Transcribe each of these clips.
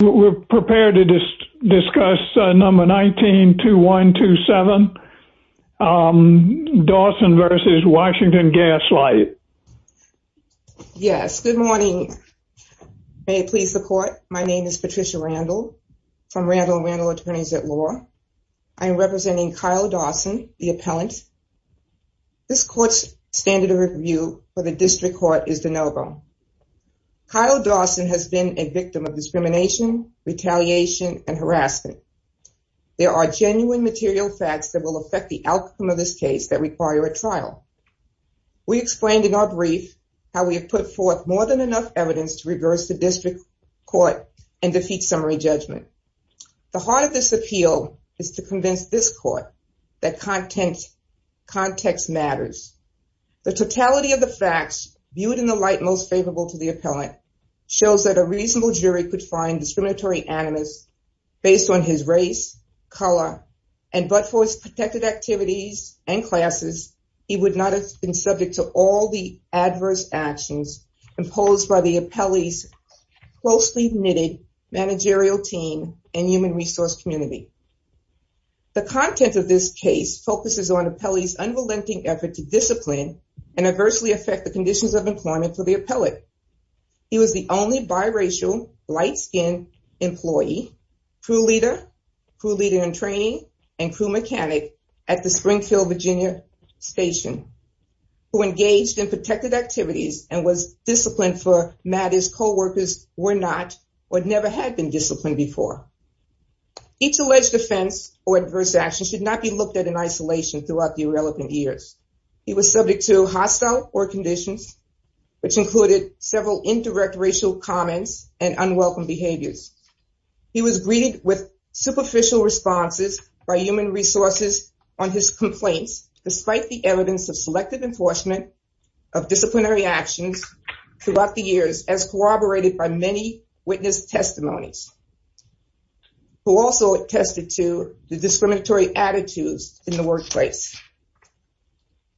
We're prepared to discuss number 192127, Dawson v. Washington Gas Light. Yes, good morning. May it please the court, my name is Patricia Randall from Randall Randall Attorneys at Law. I'm representing Kyle Dawson, the appellant. This court's standard of review for the district court is de novo. Kyle Dawson has been a victim of discrimination, retaliation, and harassment. There are genuine material facts that will affect the outcome of this case that require a trial. We explained in our brief how we have put forth more than enough evidence to reverse the district court and defeat summary judgment. The heart of this appeal is to convince this court that context matters. The totality of facts viewed in the light most favorable to the appellant shows that a reasonable jury could find discriminatory animus based on his race, color, and but for his protected activities and classes, he would not have been subject to all the adverse actions imposed by the appellee's closely knitted managerial team and human resource community. The content of this case focuses on appellee's unrelenting effort to discipline and adversely affect the conditions of employment for the appellate. He was the only biracial, light-skinned employee, crew leader, crew leader in training, and crew mechanic at the Springfield, Virginia station who engaged in protected activities and was disciplined for matters coworkers were not or never had been disciplined before. Each alleged offense or adverse action should not be looked at in isolation throughout the irrelevant years. He was subject to hostile work conditions, which included several indirect racial comments and unwelcome behaviors. He was greeted with superficial responses by human resources on his complaints despite the evidence of selective enforcement of disciplinary actions throughout the years as corroborated by many witness testimonies who also attested to the discriminatory attitudes in the case.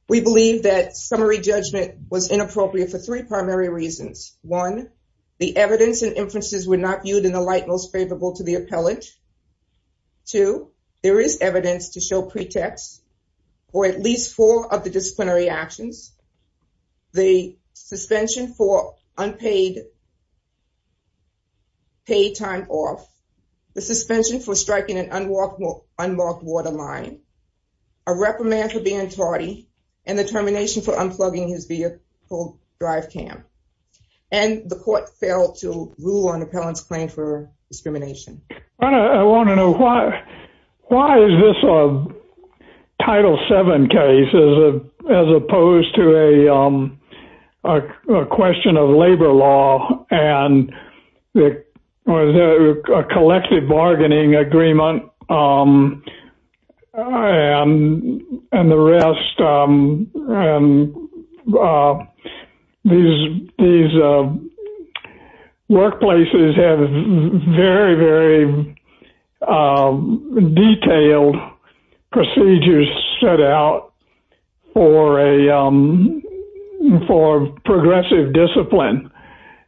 Appellee judgment was inappropriate for three primary reasons. One, the evidence and inferences were not viewed in the light most favorable to the appellate. Two, there is evidence to show pretext for at least four of the disciplinary actions. The suspension for unpaid paid time off, the suspension for striking an unmarked waterline, a reprimand for being tardy, and the termination for unplugging his vehicle drive cam. And the court failed to rule on appellant's claim for discrimination. I want to know why is this a Title VII case as opposed to a question of labor law and the collective bargaining agreement and the rest. These workplaces have very, very detailed procedures set out for progressive discipline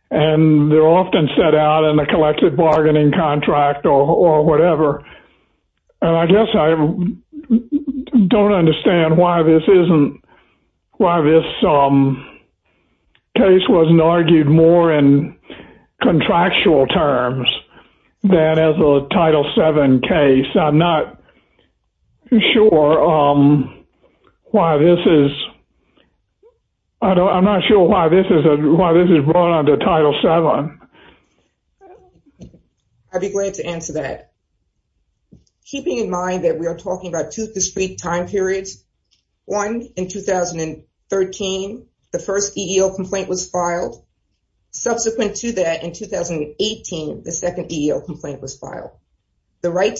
and they're often set out in the collective bargaining contract or whatever. And I guess I don't understand why this isn't, why this case wasn't argued more in contractual terms than as a Title VII case. I'm not sure why this is, I don't, I'm not sure why this is, why this is brought on to Title VII. I'd be glad to answer that. Keeping in mind that we are talking about two discrete time periods. One, in 2013, the first EEO complaint was to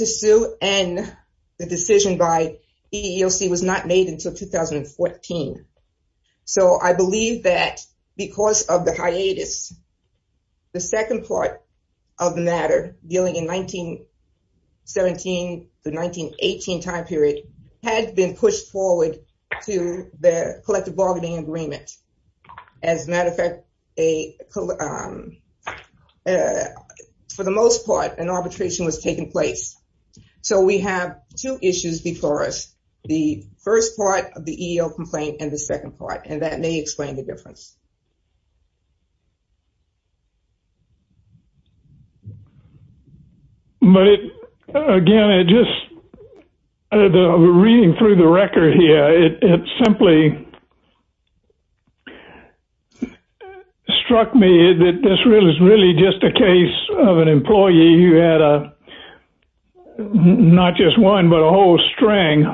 sue and the decision by EEOC was not made until 2014. So I believe that because of the hiatus, the second part of the matter dealing in 1917 to 1918 time period had been pushed forward to the collective bargaining agreement. As a So we have two issues before us, the first part of the EEO complaint and the second part, and that may explain the difference. But again, it just, reading through the record here, it simply struck me that this really is really just a case of an employee who had a, not just one, but a whole string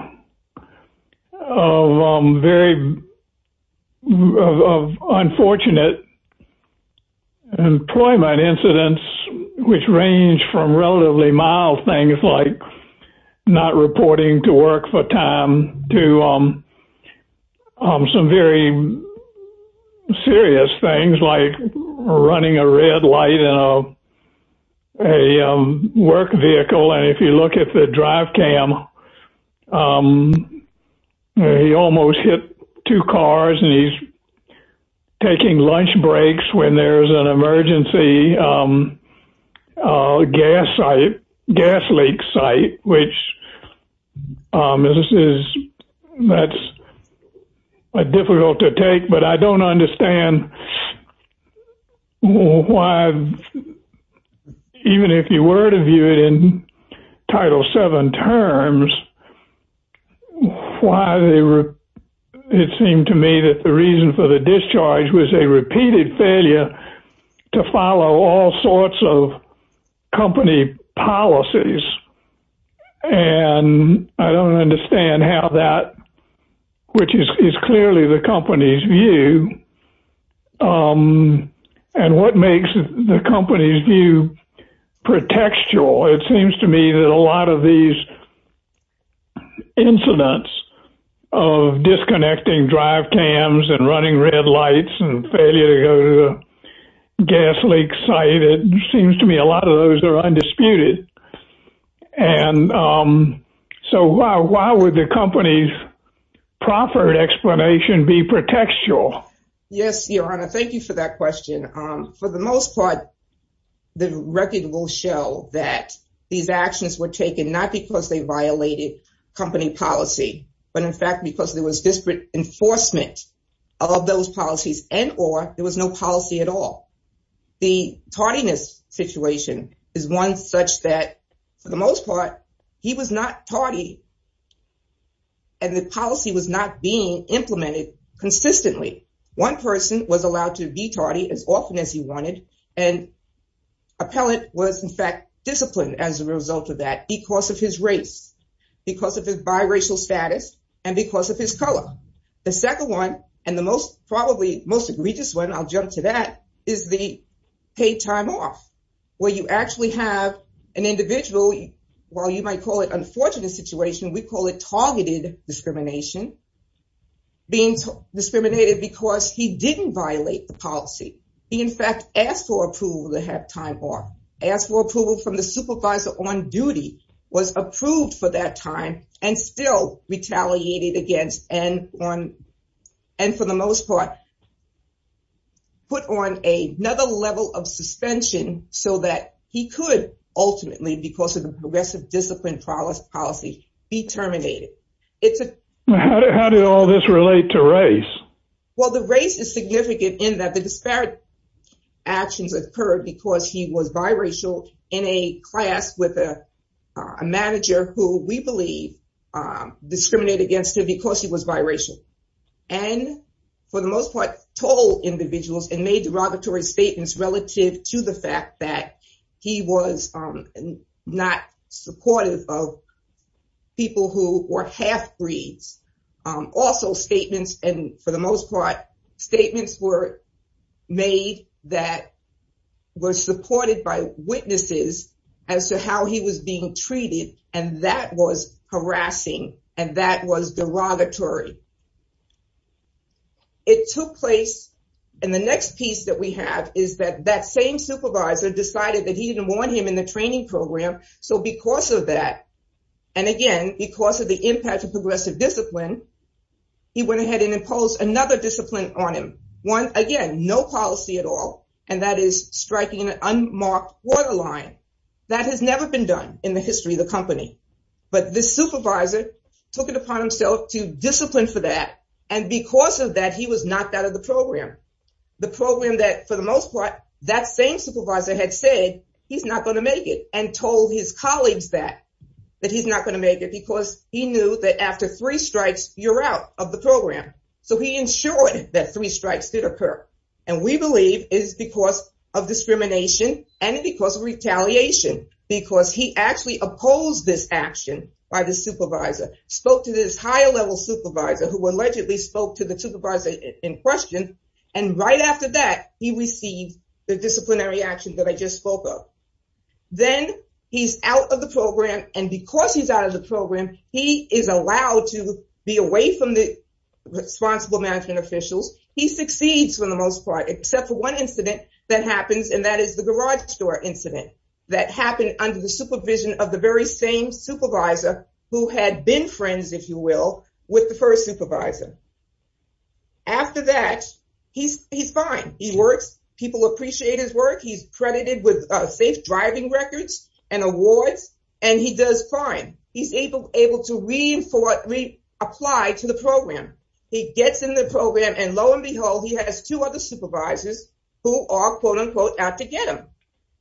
of very unfortunate employment incidents, which range from relatively mild things like not reporting to work for time to some very serious things like running a red light in a work vehicle. And if you look at the drive cam, he almost hit two cars and he's taking lunch breaks when there's an But I don't understand why, even if you were to view it in Title VII terms, why they were, it seemed to me that the reason for the discharge was a repeated failure to follow all sorts of company policies. And I don't understand how that, which is clearly the company's view. And what makes the company's view pretextual, it seems to me that a lot of these incidents of disconnecting drive cams and running red lights and failure to go to a gas leak site, it seems to me a undisputed. And so why would the company's proffered explanation be pretextual? Yes, Your Honor, thank you for that question. For the most part, the record will show that these actions were taken not because they violated company policy, but in fact, because there was disparate enforcement of those policies and or there was no policy at all. The tardiness situation is one such that for the most part, he was not tardy. And the policy was not being implemented consistently. One person was allowed to be tardy as often as he wanted. And appellant was in fact disciplined as a result of that because of his race, because of his biracial status, and because of his color. The second one, and the most probably most egregious one, I'll jump to that, is the paid time off, where you actually have an individual, while you might call it unfortunate situation, we call it targeted discrimination, being discriminated because he didn't violate the policy. He in fact asked for approval to have time off, asked for approval from the supervisor on duty, was approved for that time, and still retaliated against and on. And for the most part, put on a another level of suspension so that he could ultimately because of the progressive discipline policy, be terminated. It's a, how did all this relate to race? Well, the race is significant in that the disparate actions occurred because he was biracial in a class with a manager who we believe discriminated against him because he was biracial. And for the most part, told individuals and made derogatory statements relative to the fact that he was not supportive of people who were half-breeds. Also statements and for the most part, statements were made that were supported by witnesses as to how he was being treated, and that was harassing, and that was derogatory. It took place, and the next piece that we have is that that same supervisor decided that he didn't want him in the training program. So because of that, and again, because of the impact of progressive discipline, he went ahead and imposed another discipline on him. One, again, no policy at all, and that is striking an unmarked borderline. That has never been done in the history of the company. But this supervisor took it upon himself to discipline for that. And because of that, he was knocked out of the program, the program that for the most part, that same supervisor had said, he's not going to make it and told his colleagues that, that he's not going to make it because he was out of the program. So he ensured that three strikes did occur. And we believe is because of discrimination, and because of retaliation, because he actually opposed this action by the supervisor, spoke to this higher level supervisor who allegedly spoke to the supervisor in question. And right after that, he received the disciplinary action that I just spoke of. Then he's out of the program. And because he's out of the program, he is allowed to be away from the responsible management officials. He succeeds for the most part, except for one incident that happens. And that is the garage store incident that happened under the supervision of the very same supervisor who had been friends, if you will, with the first supervisor. After that, he's fine. He works. People appreciate his work. He's credited with safe driving records and awards, and he does fine. He's able to reapply to the program. He gets in the program, and lo and behold, he has two other supervisors who are, quote unquote, out to get him.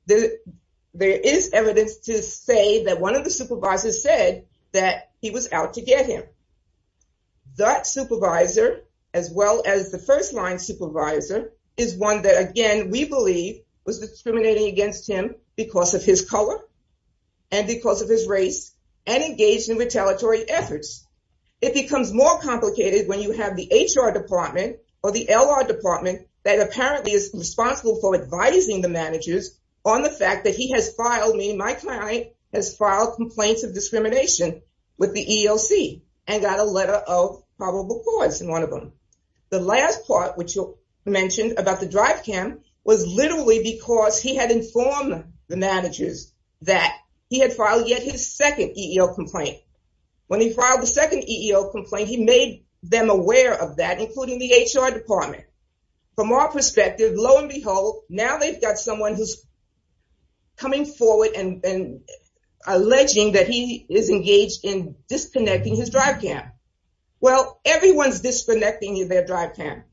There is evidence to say that one of the supervisors said that he was out to get him. That supervisor, as well as the first line supervisor, is one that, again, we believe was discriminating against him because of his color, and because of his race, and engaged in retaliatory efforts. It becomes more complicated when you have the HR department or the LR department that apparently is responsible for advising the managers on the fact that he has filed me, my client has filed complaints of discrimination with the EEOC, and got a letter of probable cause in one of them. The last part, which you mentioned about the drive cam, was literally because he had informed the managers that he had filed yet his second EEO complaint. When he filed the second EEO complaint, he made them aware of that, including the HR department. From our perspective, now they've got someone who's coming forward and alleging that he is engaged in disconnecting his drive cam. Well, everyone's disconnecting their drive cam,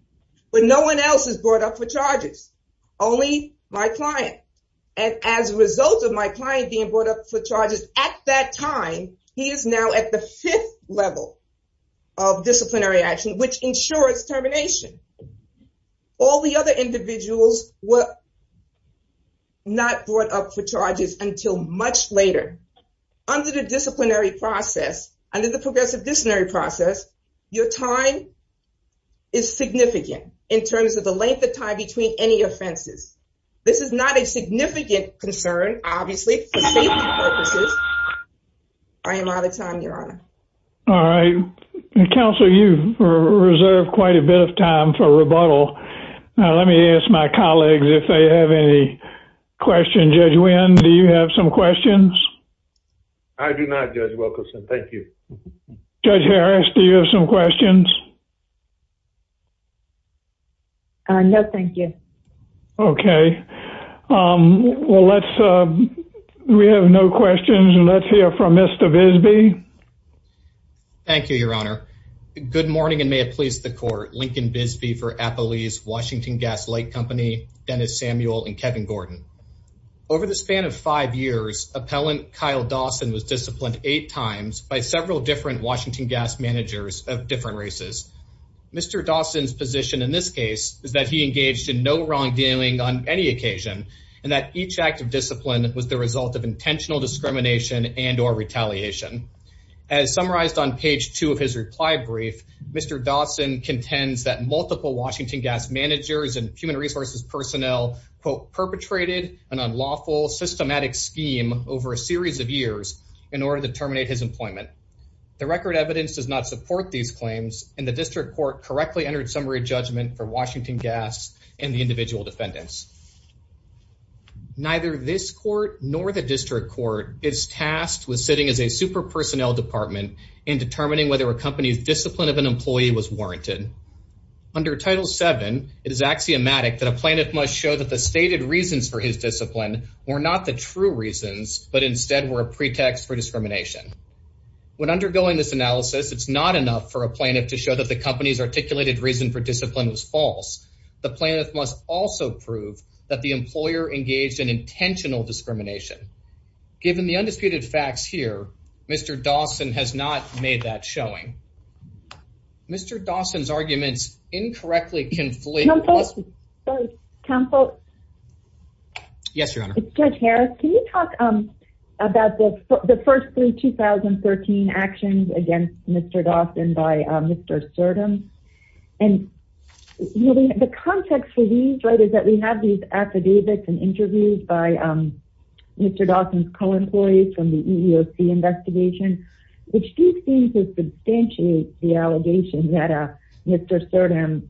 but no one else is brought up for charges, only my client. As a result of my client being brought up for charges, at that point, he was not brought up for charges until much later. Under the disciplinary process, under the progressive disciplinary process, your time is significant in terms of the length of time between any offenses. This is not a significant concern, obviously, for safety purposes. I am out of time, if you have any questions. Judge Nguyen, do you have some questions? I do not, Judge Wilkerson. Thank you. Judge Harris, do you have some questions? No, thank you. Okay. Well, let's, we have no questions. Let's hear from Mr. Bisbee. Thank you, Your Honor. Good morning, and may it please the court, Lincoln Bisbee for Applebee's Washington Gas Light Company, Dennis Samuel and Kevin Gordon. Over the span of five years, appellant Kyle Dawson was disciplined eight times by several different Washington Gas managers of different races. Mr. Dawson's position in this As summarized on page two of his reply brief, Mr. Dawson contends that multiple Washington Gas managers and human resources personnel, quote, perpetrated an unlawful, systematic scheme over a series of years in order to terminate his employment. The record evidence does not support these claims, and the district court correctly entered summary judgment for Washington Gas and the individual defendants. Neither this court nor the district court is tasked with sitting as a super personnel department in determining whether a company's discipline of an employee was warranted. Under Title VII, it is axiomatic that a plaintiff must show that the stated reasons for his discipline were not the true reasons, but instead were a pretext for discrimination. When undergoing this analysis, it's not enough for a plaintiff to show that the company's articulated reason for discipline was false. The plaintiff must also prove that the employer engaged in intentional discrimination. Given the undisputed facts here, Mr. Dawson has not made that showing. Mr. Dawson's arguments incorrectly conflict. Counsel. Yes, Your Honor. Judge Harris, can you talk about the first three 2013 actions against Mr. Dawson by Mr. Sertum? And the context for these is that we have these affidavits and interviews by Mr. Dawson's co-employees from the EEOC investigation, which do seem to substantiate the allegation that Mr. Dawson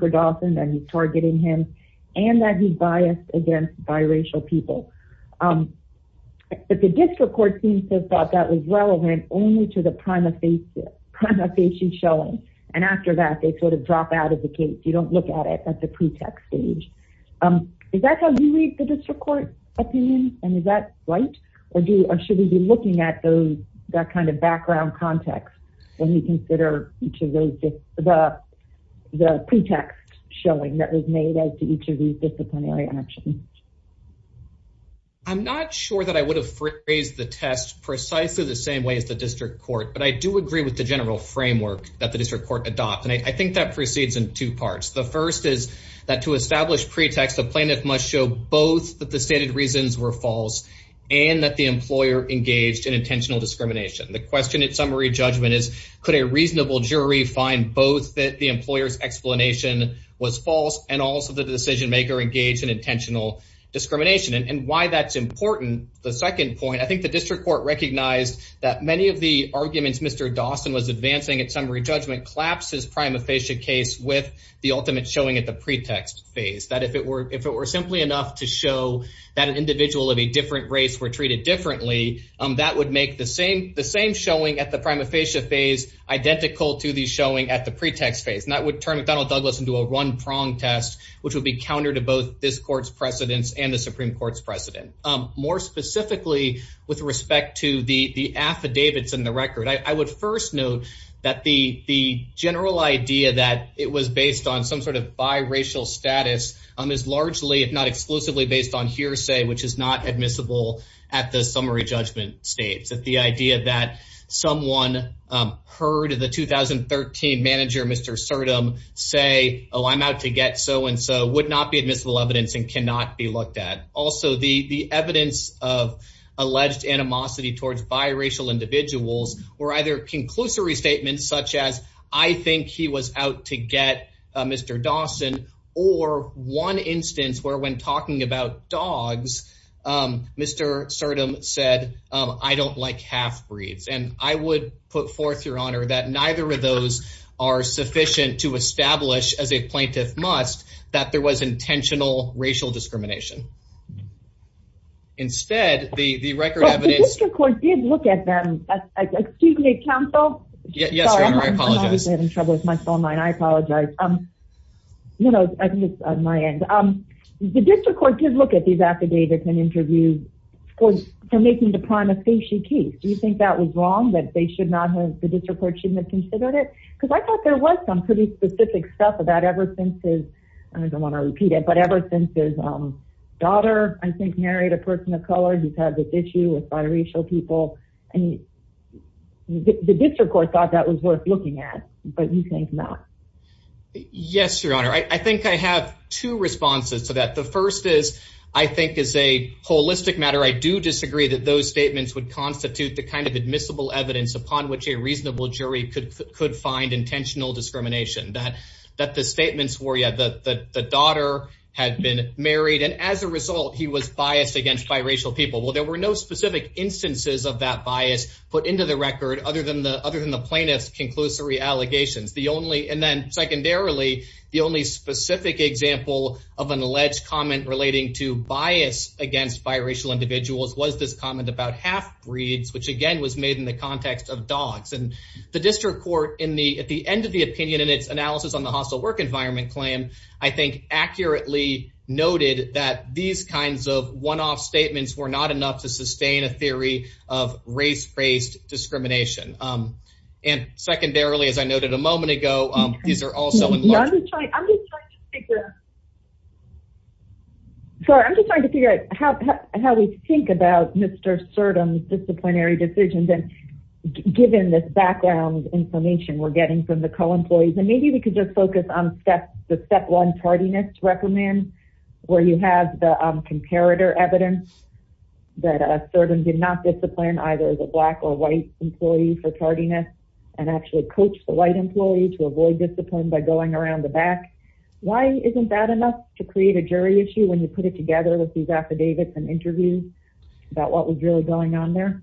was targeting him and that he's biased against biracial people. But the district court seems to have thought that was relevant only to the prima facie showing. And after that, they sort of drop out of the case. You don't look at it at the pretext stage. Is that how you read the district court opinion? And is that right? Or should we be looking at that kind of background context when we consider the pretext showing that was made as to each of these disciplinary actions? I'm not sure that I would have phrased the test precisely the same way as the district court, but I do agree with the general framework that the district court adopts. And I think that proceeds in two parts. The first is that to establish pretext, the plaintiff must show both that the stated reasons were false and that the employer engaged in intentional discrimination. The question at summary judgment is, could a reasonable jury find both that the employer's explanation was false and also the decision maker engaged in intentional discrimination and why that's important? The second point, I think the district court recognized that many of the arguments Mr. Dawson was advancing at summary judgment collapses prima facie case with the ultimate showing at the pretext phase that if it were if it were simply enough to show that an individual of a different race were treated differently, that would make the same the same showing at the prima facie phase identical to the showing at the pretext phase. And that would turn McDonnell Douglas into a one prong test, which would be counter to both this court's precedents and the Supreme Court's precedent. More specifically, with respect to the affidavits in the record, I would first note that the the general idea that it was based on some sort of biracial status is largely, if not exclusively based on hearsay, which is not admissible at the summary judgment states. That the idea that someone heard of the 2013 manager, Mr. Serdum say, oh, I'm out to get so and so would not be admissible evidence and cannot be looked at. Also, the the evidence of alleged animosity towards biracial individuals were either conclusory statements such as I think he was out to get Mr. Dawson or one instance where when talking about dogs, Mr. Serdum said, I don't like half breeds. And I would put forth your honor that neither of those are sufficient to establish as a plaintiff must that there was intentional racial discrimination. Instead, the record of the district court did look at them. Excuse me, counsel. Yes, I apologize. I'm having trouble with my phone line. I apologize. You know, I think on my end, the district court did look at these affidavits and interviews for making the prima facie case. Do you think that was wrong that they should not have the district court should have considered it? Because I thought there was some pretty specific stuff about ever since his I don't want to repeat it, but ever since his daughter, I think, married a person of color. He's had this issue with biracial people. And the district court thought that was worth looking at. But you think not? Yes, your honor. I think I have two responses to that. The first is, I think, is a holistic matter. I do disagree that those statements would constitute the kind of admissible evidence upon which a reasonable jury could could find intentional discrimination that that the statements were. Yeah, the daughter had been married. And as a result, he was biased against biracial people. Well, there were no specific instances of that bias put into the record other than the other than the plaintiff's conclusory allegations. The only and then secondarily, the only specific example of an alleged comment relating to bias against biracial individuals was this comment about half breeds, which again was made in the context of dogs. And the district court in the at the end of the opinion in its analysis on the hostile work environment claim, I think, accurately noted that these kinds of one off statements were not enough to sustain a theory of race based discrimination. And secondarily, as I noted a moment ago, these are also trying to figure out how we think about Mr. Certain disciplinary decisions. And given this background information we're getting from the CO employees, and maybe we could just focus on the step one tardiness recommend where you have the comparator evidence that certain did not discipline either the black or white employees. So, you know, why not create a jury issue for tardiness and actually coach the white employee to avoid discipline by going around the back? Why isn't that enough to create a jury issue when you put it together with these affidavits and interviews about what was really going on there?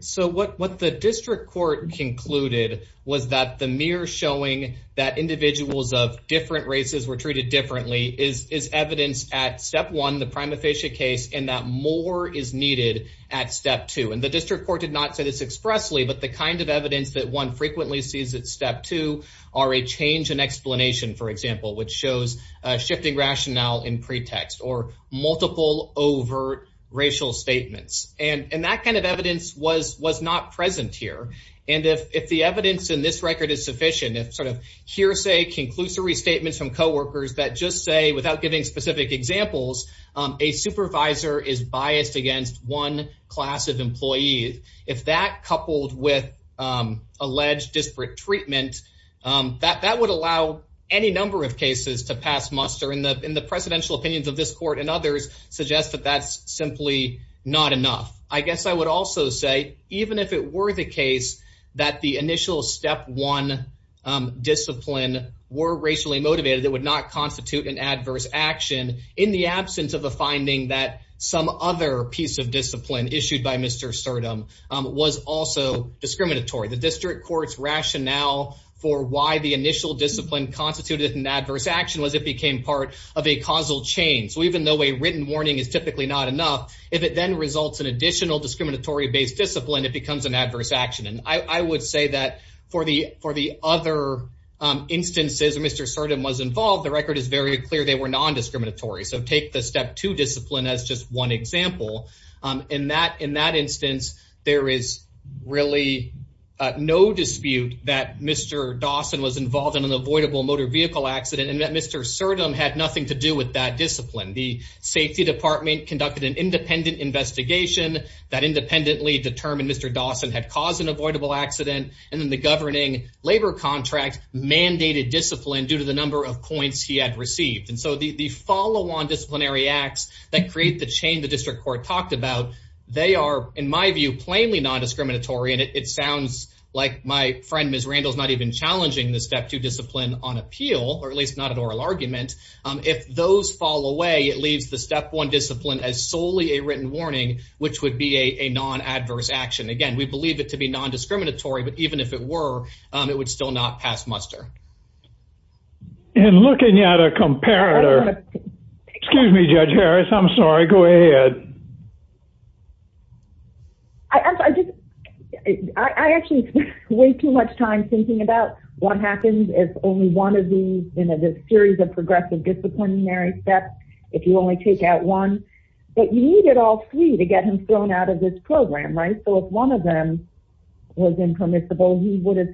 So what the district court concluded was that the mirror showing that individuals of different races were treated differently is is evidence at step one, the prima facie case, and that more is needed at step two. And the district court did not say this expressly, but the kind of evidence that one frequently sees at step two are a change in explanation, for example, which shows shifting rationale in pretext or multiple overt racial statements. And that kind of evidence was was not present here. And if the evidence in this record is sufficient, if sort of hearsay, conclusory statements from coworkers that just say without giving specific examples, a supervisor is biased against one class of employees, if that coupled with alleged disparate treatment, that that would allow any number of cases to pass muster in the in the presidential opinions of this court and others suggest that that's simply not enough. I guess I would also say, even if it were the case that the initial step one discipline were racially motivated, that would not constitute an adverse action in the absence of a finding that some other piece of discipline issued by Mr. Serdum was also discriminatory. The district court's rationale for why the initial discipline constituted an adverse action was it became part of a causal chain. So even though a written warning is typically not enough, if it then results in additional discriminatory based discipline, it becomes an adverse action. And I would say that for the for the other instances Mr. Serdum was involved, the record is very clear. They were nondiscriminatory. So take the step two discipline as just one example. In that in that instance, there is really no dispute that Mr. Dawson was involved in an avoidable motor vehicle accident and that Mr. Serdum had nothing to do with that discipline. The safety department conducted an independent investigation that independently determined Mr. Dawson had caused an avoidable accident. And then the governing labor contract mandated discipline due to the number of points he had received. And so the follow on disciplinary acts that create the chain the district court talked about, they are, in my view, plainly nondiscriminatory. And it sounds like my friend, Ms. Randall, is not even challenging the step two discipline on appeal, or at least not an oral argument. If those fall away, it leaves the step one discipline as solely a written warning, which would be a non adverse action. Again, we believe it to be nondiscriminatory, but even if it were, it would still not pass muster. And looking at a comparator, excuse me, Judge Harris, I'm sorry. Go ahead. I just I actually spend way too much time thinking about what happens if only one of these in a series of progressive disciplinary steps, if you only take out one. But you needed all three to get him thrown out of this program, right? So if one of them was impermissible, he would have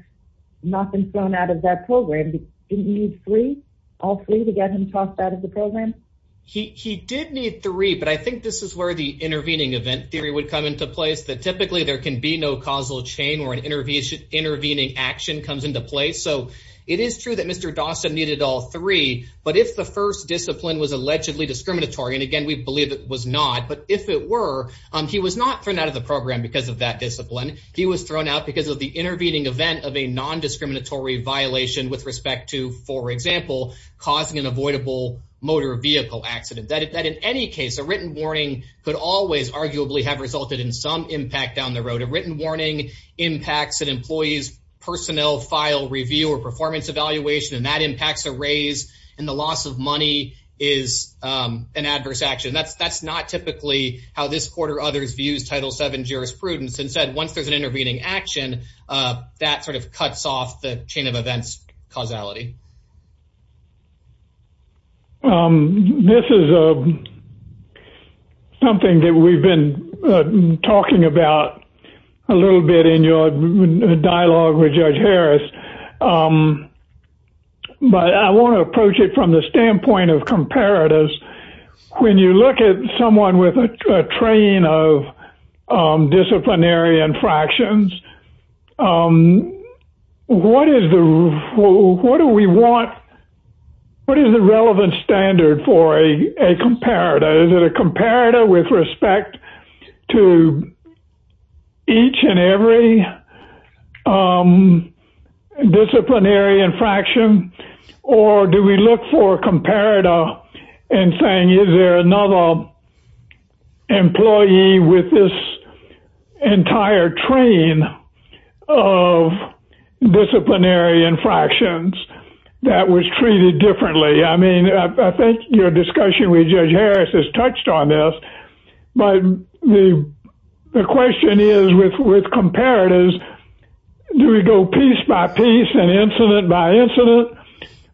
not been thrown out of that program. You need three, all three to get him tossed out of the program. He did need three. But I think this is where the intervening event theory would come into place, that typically there can be no causal chain or an intervention. Intervening action comes into play. So it is true that Mr. Dawson needed all three. But if the first discipline was allegedly discriminatory, and again, we believe it was not. But if it were, he was not thrown out of the program because of that discipline. He was thrown out because of the intervening event of a nondiscriminatory violation with respect to, for example, causing an avoidable motor vehicle accident. That in any case, a written warning could always arguably have resulted in some impact down the road. A written warning impacts an employee's personnel file review or performance evaluation. And that impacts a raise. And the loss of money is an adverse action. That's that's not typically how this court or others views Title VII jurisprudence. Instead, once there's an intervening action, that sort of cuts off the chain of events causality. This is something that we've been talking about a little bit in your dialogue with Judge Harris. But I want to approach it from the standpoint of comparatives. When you look at someone with a train of disciplinary infractions, what is the what do we want? What is the relevant standard for a comparator? Is it a comparator with respect to each and every disciplinary infraction? Or do we look for a comparator and saying, is there another employee with this entire train of disciplinary infractions that was treated differently? I mean, I think your discussion with Judge Harris has touched on this. But the question is, with with comparatives, do we go piece by piece and incident by incident?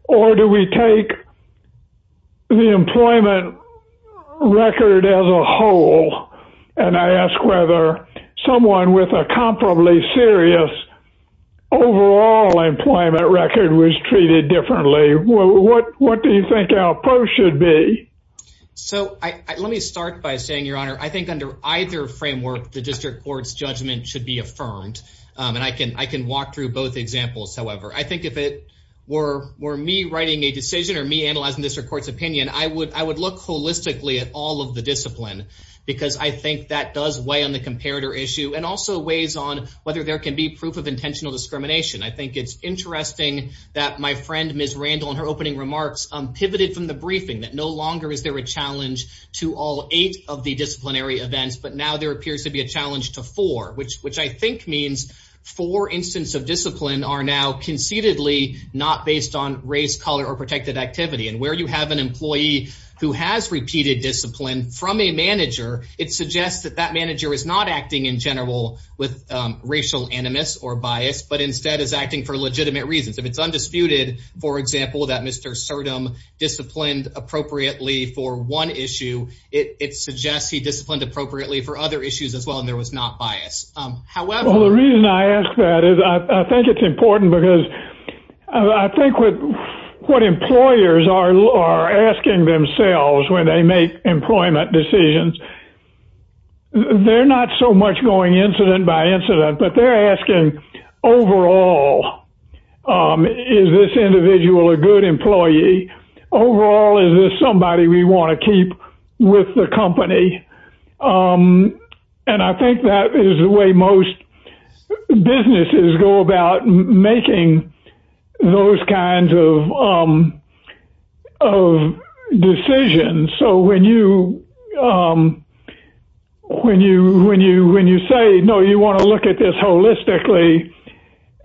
Or do we take the employment record as a whole? And I ask whether someone with a comparably serious overall employment record was treated differently. What what do you think our approach should be? So let me start by saying, Your Honor, I think under either framework, the district court's judgment should be affirmed. And I can I can walk through both examples. However, I think if it were were me writing a decision or me analyzing this court's opinion, I would I would look holistically at all of the discipline. Because I think that does weigh on the comparator issue and also weighs on whether there can be proof of intentional discrimination. I think it's interesting that my friend, Ms. Randall, in her opening remarks, pivoted from the briefing that no longer is there a challenge to all eight of the disciplinary events. But now there appears to be a challenge to four, which which I think means four instances of discipline are now concededly not based on race, color or protected activity. And where you have an employee who has repeated discipline from a manager, it suggests that that manager is not acting in general with racial animus or bias. But instead is acting for legitimate reasons. If it's undisputed, for example, that Mr. Serdum disciplined appropriately for one issue, it suggests he disciplined appropriately for other issues as well. And there was not bias. However, the reason I ask that is I think it's important because I think with what employers are asking themselves when they make employment decisions. They're not so much going incident by incident, but they're asking overall, is this individual a good employee? Overall, is this somebody we want to keep with the company? And I think that is the way most businesses go about making those kinds of decisions. So when you when you when you when you say, no, you want to look at this holistically.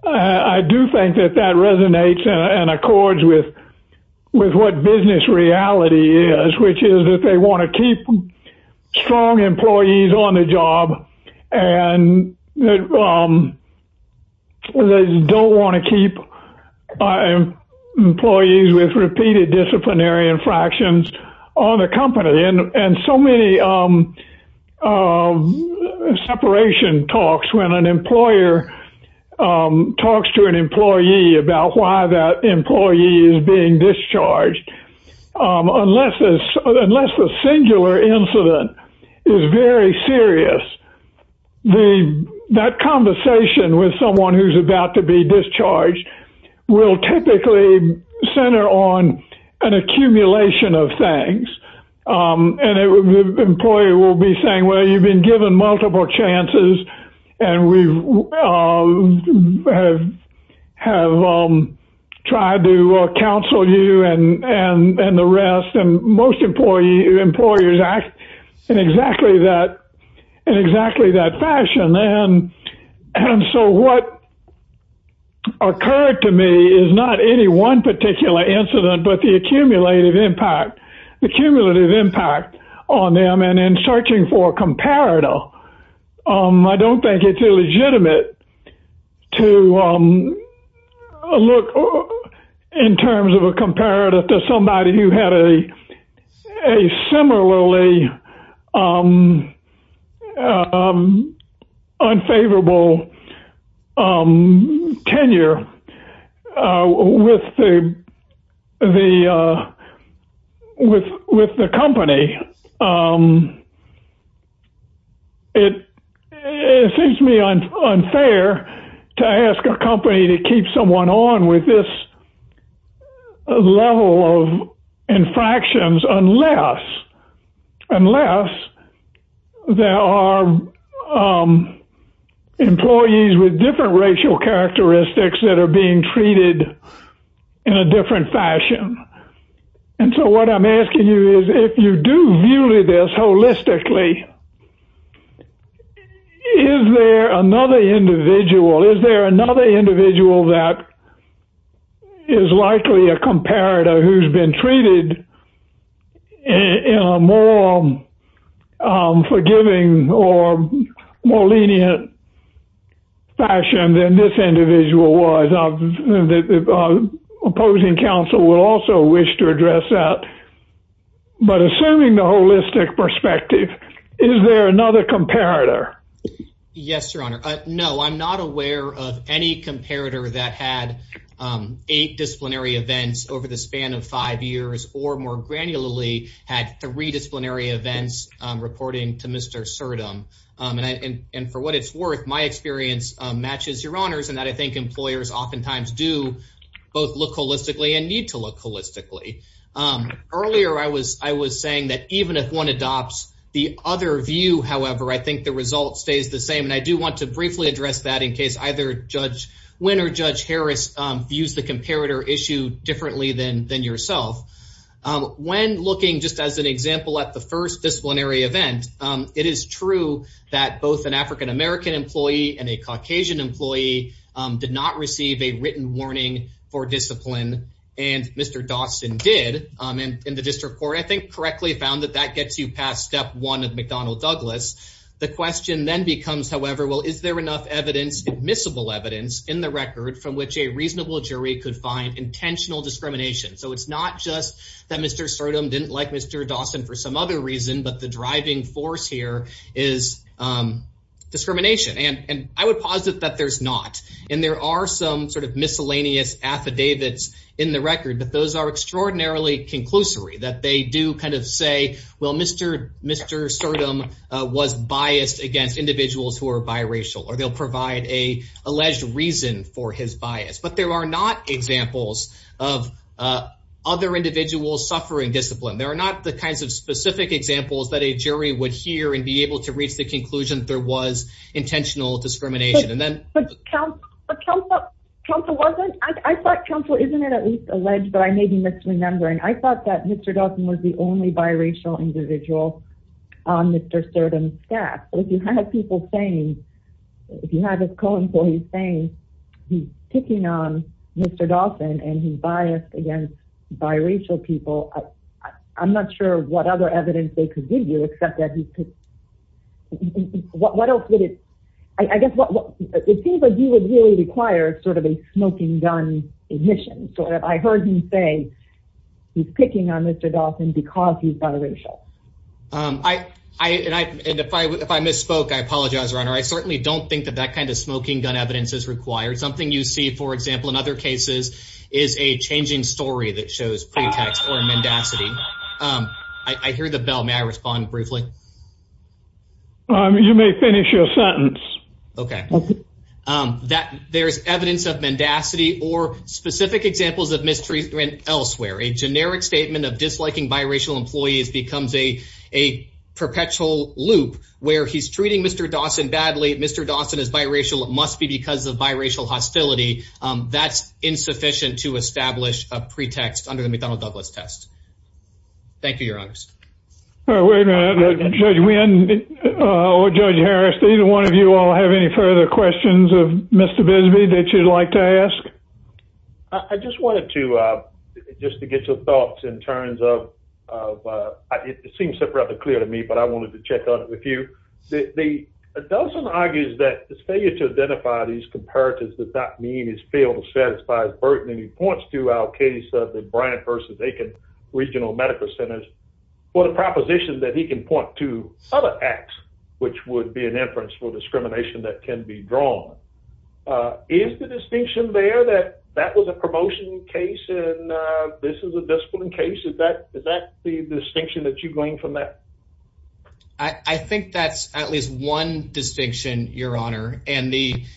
I do think that that resonates and accords with with what business reality is, which is that they want to keep strong employees on the job. And they don't want to keep employees with repeated disciplinary infractions on the company. And so many separation talks when an employer talks to an employee about why that employee is being discharged. Unless this unless the singular incident is very serious. The that conversation with someone who's about to be discharged will typically center on an accumulation of things. And the employer will be saying, well, you've been given multiple chances. And we have tried to counsel you and the rest. And most employers act in exactly that in exactly that fashion. And so what occurred to me is not any one particular incident, but the accumulative impact, the accumulative impact on them. And in searching for a comparative, I don't think it's illegitimate to look in terms of a comparative to somebody who had a similarly unfavorable tenure with the company. It seems to me unfair to ask a company to keep someone on with this level of infractions, unless, unless there are employees with different racial characteristics that are being treated in a different fashion. And so what I'm asking you is, if you do view this holistically, is there another individual, is there another individual that is likely a comparator who's been treated in a more forgiving or more lenient fashion than this individual was? The opposing counsel will also wish to address that. But assuming the holistic perspective, is there another comparator? Yes, Your Honor. No, I'm not aware of any comparator that had eight disciplinary events over the span of five years or more granularly had three disciplinary events, reporting to Mr. And for what it's worth, my experience matches Your Honor's, and that I think employers oftentimes do both look holistically and need to look holistically. Earlier, I was, I was saying that even if one adopts the other view, however, I think the result stays the same. And I do want to briefly address that in case either Judge Wynn or Judge Harris views the comparator issue differently than than yourself. When looking, just as an example, at the first disciplinary event, it is true that both an African-American employee and a Caucasian employee did not receive a written warning for discipline. And Mr. Dawson did in the District Court, I think, correctly found that that gets you past step one of McDonnell Douglas. The question then becomes, however, well, is there enough evidence, admissible evidence, in the record from which a reasonable jury could find intentional discrimination? So it's not just that Mr. Surdham didn't like Mr. Dawson for some other reason, but the driving force here is discrimination. And I would posit that there's not. And there are some sort of miscellaneous affidavits in the record, but those are extraordinarily conclusory. That they do kind of say, well, Mr. Surdham was biased against individuals who are biracial, or they'll provide a alleged reason for his bias. But there are not examples of other individuals suffering discipline. There are not the kinds of specific examples that a jury would hear and be able to reach the conclusion that there was intentional discrimination. But counsel wasn't, I thought counsel, isn't it at least alleged, but I may be misremembering, I thought that Mr. Dawson was the only biracial individual on Mr. Surdham's staff. But if you have people saying, if you have his co-employees saying he's picking on Mr. Dawson and he's biased against biracial people, I'm not sure what other evidence they could give you, except that he could, what else would it, I guess, it seems like you would really require sort of a smoking gun admission. So if I heard him say he's picking on Mr. Dawson because he's biracial. If I misspoke, I apologize, Your Honor. I certainly don't think that that kind of smoking gun evidence is required. Something you see, for example, in other cases is a changing story that shows pretext or mendacity. I hear the bell. May I respond briefly? Okay. There's evidence of mendacity or specific examples of mistreatment elsewhere. A generic statement of disliking biracial employees becomes a perpetual loop where he's treating Mr. Dawson badly. Mr. Dawson is biracial. It must be because of biracial hostility. That's insufficient to establish a pretext under the McDonnell Douglas test. Thank you, Your Honor. Wait a minute. Judge Wynn or Judge Harris, do either one of you all have any further questions of Mr. Bisbee that you'd like to ask? I just wanted to, just to get your thoughts in terms of, it seems rather clear to me, but I wanted to check on it with you. Dawson argues that his failure to identify these comparatives does not mean his field satisfies Burton. And he points to our case of the Bryant versus Aiken Regional Medical Centers for the proposition that he can point to other acts, which would be an inference for discrimination that can be drawn. Is the distinction there that that was a promotion case and this is a discipline case? Is that the distinction that you gleaned from that? I think that's at least one distinction, Your Honor. And the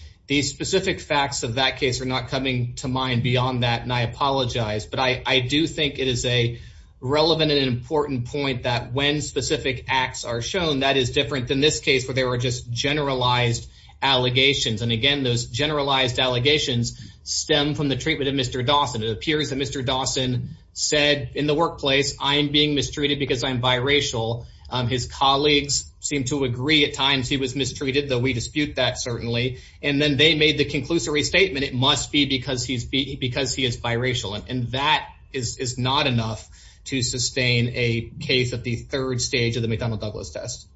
specific facts of that case are not coming to mind beyond that. And I apologize. But I do think it is a relevant and important point that when specific acts are shown, that is different than this case where there were just generalized allegations. And again, those generalized allegations stem from the treatment of Mr. Dawson. It appears that Mr. Dawson said in the workplace, I'm being mistreated because I'm biracial. His colleagues seem to agree at times he was mistreated, though we dispute that certainly. And then they made the conclusive restatement. It must be because he's because he is biracial. And that is not enough to sustain a case at the third stage of the McDonnell Douglas test.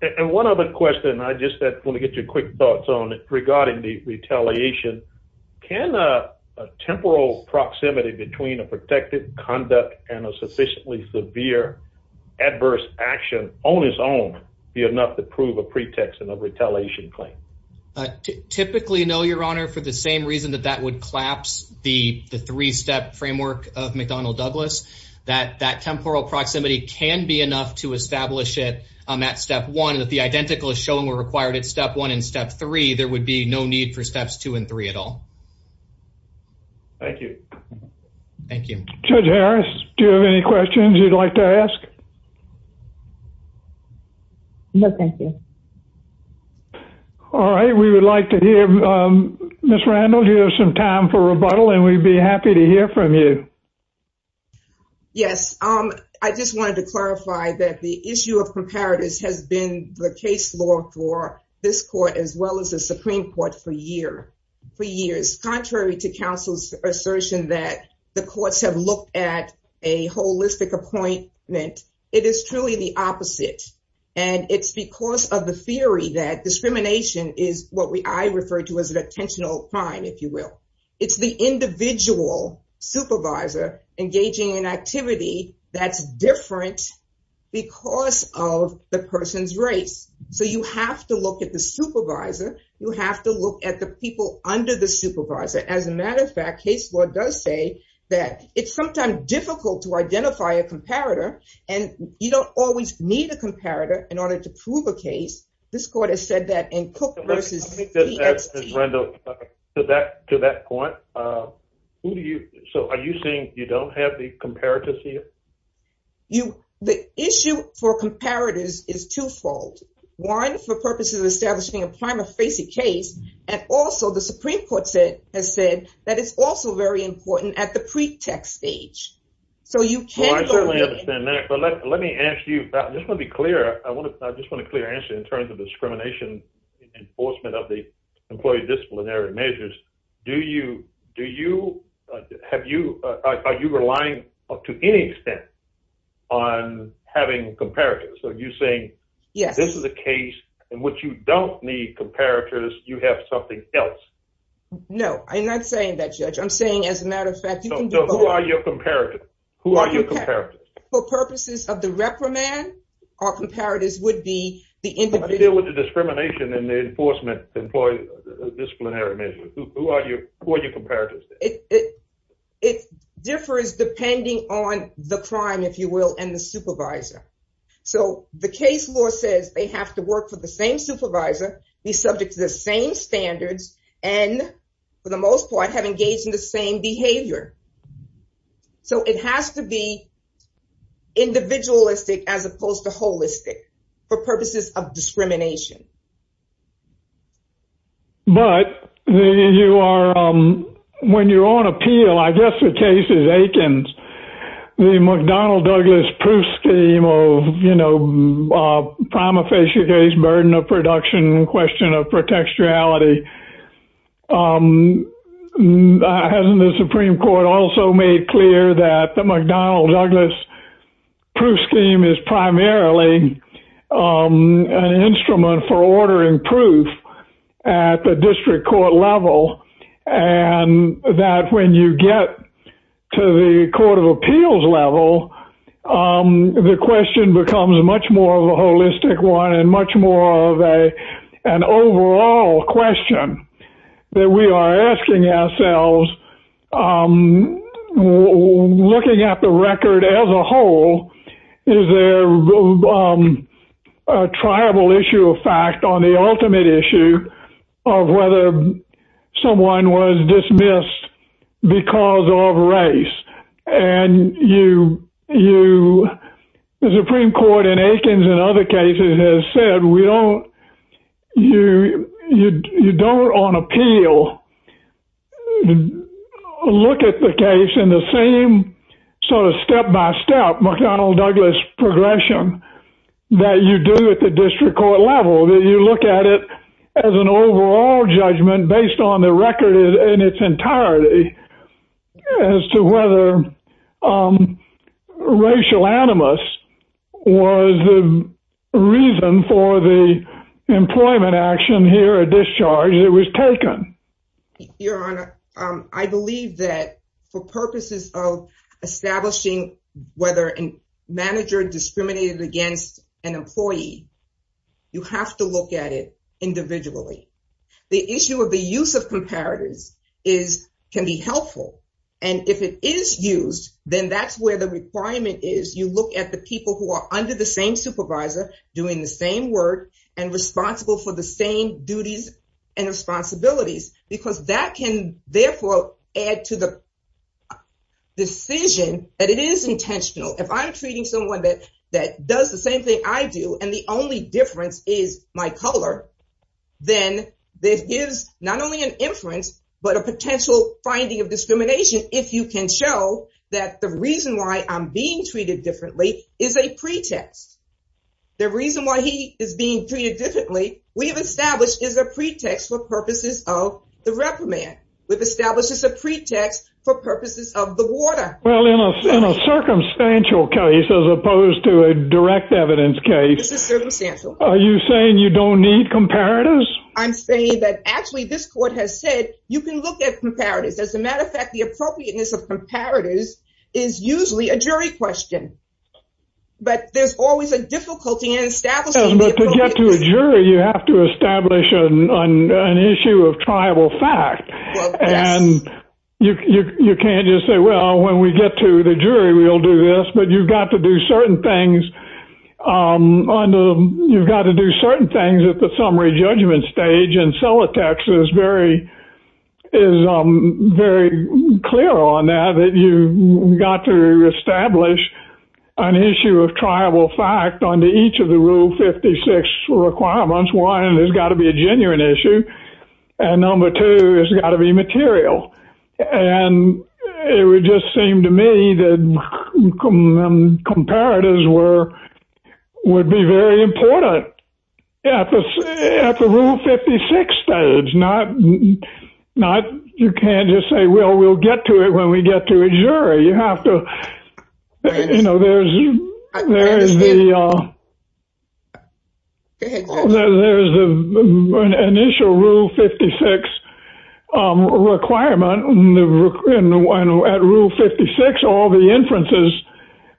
And one other question, I just want to get your quick thoughts on regarding the retaliation. Can a temporal proximity between a protective conduct and a sufficiently severe adverse action on its own be enough to prove a pretext and a retaliation claim? Typically, no, Your Honor, for the same reason that that would collapse the three-step framework of McDonnell Douglas. That temporal proximity can be enough to establish it at step one. And if the identical is shown where required at step one and step three, there would be no need for steps two and three at all. Thank you. Thank you. Judge Harris, do you have any questions you'd like to ask? No, thank you. All right. We would like to hear, Ms. Randall, do you have some time for rebuttal? And we'd be happy to hear from you. Yes. I just wanted to clarify that the issue of comparatives has been the case law for this court as well as the Supreme Court for a year, for years. Contrary to counsel's assertion that the courts have looked at a holistic appointment. It is truly the opposite. And it's because of the theory that discrimination is what I refer to as an attentional crime, if you will. It's the individual supervisor engaging in activity that's different because of the person's race. So you have to look at the supervisor. You have to look at the people under the supervisor. As a matter of fact, case law does say that it's sometimes difficult to identify a comparator. And you don't always need a comparator in order to prove a case. This court has said that in Cook v. PST. Ms. Randall, to that point, are you saying you don't have the comparatives here? The issue for comparatives is twofold. One, for purposes of establishing a prima facie case. And also, the Supreme Court has said that it's also very important at the pretext stage. So you can't go... Well, I certainly understand that. But let me ask you, I just want to be clear. I just want a clear answer in terms of discrimination enforcement of the employee disciplinary measures. Do you, do you, have you, are you relying to any extent on having comparatives? So you're saying this is a case in which you don't need comparatives. You have something else. No, I'm not saying that, Judge. I'm saying, as a matter of fact, you can do both. So who are your comparatives? Who are your comparatives? For purposes of the reprimand, our comparatives would be the individual... How do you deal with the discrimination in the enforcement employee disciplinary measures? Who are your comparatives? It differs depending on the crime, if you will, and the supervisor. So the case law says they have to work for the same supervisor, be subject to the same standards, and, for the most part, have engaged in the same behavior. So it has to be individualistic as opposed to holistic for purposes of discrimination. But you are, when you're on appeal, I guess the case is Aikens. The McDonnell Douglas Proof Scheme, or, you know, prima facie case, burden of production, question of protectionality. Hasn't the Supreme Court also made clear that the McDonnell Douglas Proof Scheme is primarily an instrument for ordering proof at the district court level, and that when you get to the court of appeals level, the question becomes much more of a holistic one and much more of an overall question that we are asking ourselves, looking at the record as a whole, is there a triable issue of fact on the ultimate issue of whether someone was dismissed because of race? And you, the Supreme Court in Aikens and other cases has said we don't, you don't on appeal look at the case in the same sort of step-by-step McDonnell Douglas progression that you do at the district court level. That you look at it as an overall judgment based on the record in its entirety as to whether racial animus was the reason for the employment action here at discharge that was taken. Your Honor, I believe that for purposes of establishing whether a manager discriminated against an employee, you have to look at it individually. The issue of the use of comparatives can be helpful. And if it is used, then that's where the requirement is. You look at the people who are under the same supervisor doing the same work and responsible for the same duties and responsibilities, because that can therefore add to the decision that it is intentional. If I'm treating someone that does the same thing I do and the only difference is my color, then there is not only an inference but a potential finding of discrimination if you can show that the reason why I'm being treated differently is a pretext. The reason why he is being treated differently we have established is a pretext for purposes of the reprimand. We've established as a pretext for purposes of the water. Well, in a circumstantial case as opposed to a direct evidence case, This is circumstantial. Are you saying you don't need comparatives? I'm saying that actually this court has said you can look at comparatives. As a matter of fact, the appropriateness of comparatives is usually a jury question. But there's always a difficulty in establishing the appropriateness. But to get to a jury, you have to establish an issue of triable fact. And you can't just say, well, when we get to the jury, we'll do this. But you've got to do certain things at the summary judgment stage. And Celotex is very clear on that. You've got to establish an issue of triable fact under each of the Rule 56 requirements. One, there's got to be a genuine issue. And number two, there's got to be material. And it would just seem to me that comparatives would be very important at the Rule 56 stage. You can't just say, well, we'll get to it when we get to a jury. You have to, you know, there's the initial Rule 56 requirement. And at Rule 56, all the inferences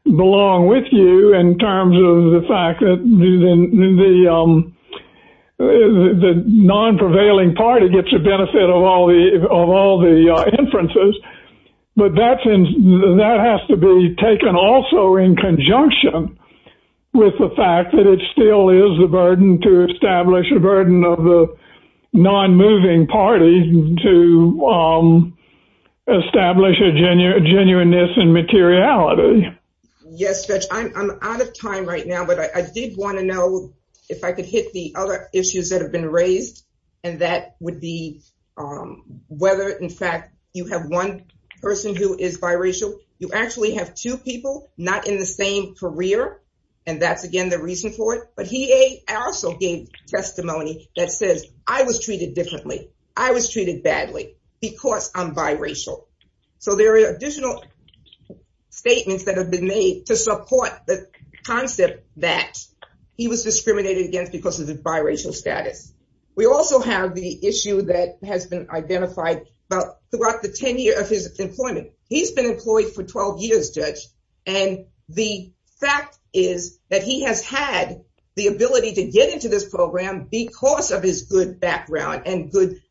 belong with you in terms of the fact that the non-prevailing party gets a benefit of all the inferences. But that has to be taken also in conjunction with the fact that it still is a burden to establish a burden of the non-moving party to establish a genuineness and materiality. Yes, Judge, I'm out of time right now. But I did want to know if I could hit the other issues that have been raised. And that would be whether, in fact, you have one person who is biracial. You actually have two people not in the same career. And that's, again, the reason for it. But he also gave testimony that says, I was treated differently. I was treated badly because I'm biracial. So there are additional statements that have been made to support the concept that he was discriminated against because of his biracial status. We also have the issue that has been identified throughout the tenure of his employment. He's been employed for 12 years, Judge. And the fact is that he has had the ability to get into this program because of his good background and good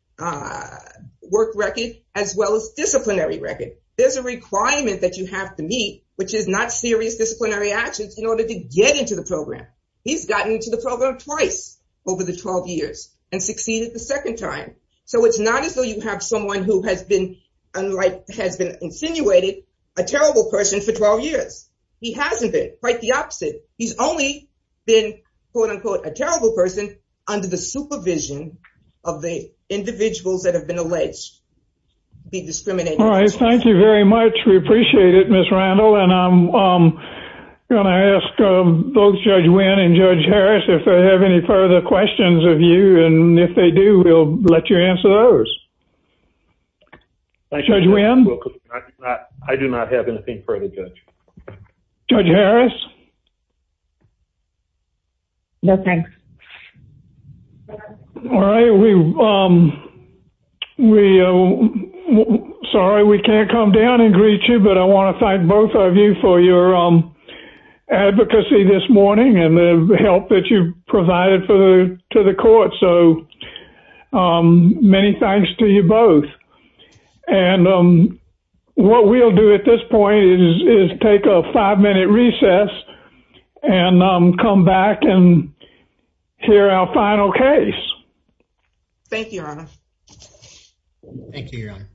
work record, as well as disciplinary record. There's a requirement that you have to meet, which is not serious disciplinary actions in order to get into the program. He's gotten into the program twice over the 12 years and succeeded the second time. So it's not as though you have someone who has been insinuated a terrible person for 12 years. He hasn't been. Quite the opposite. He's only been, quote, unquote, a terrible person under the supervision of the individuals that have been alleged to be discriminated against. All right. Thank you very much. We appreciate it, Ms. Randall. And I'm going to ask both Judge Wynn and Judge Harris if they have any further questions of you. And if they do, we'll let you answer those. Judge Wynn? I do not have anything further, Judge. Judge Harris? No, thanks. All right. Sorry we can't come down and greet you, but I want to thank both of you for your advocacy this morning and the help that you provided to the court. So many thanks to you both. And what we'll do at this point is take a five-minute recess and come back and hear our final case. Thank you, Your Honor.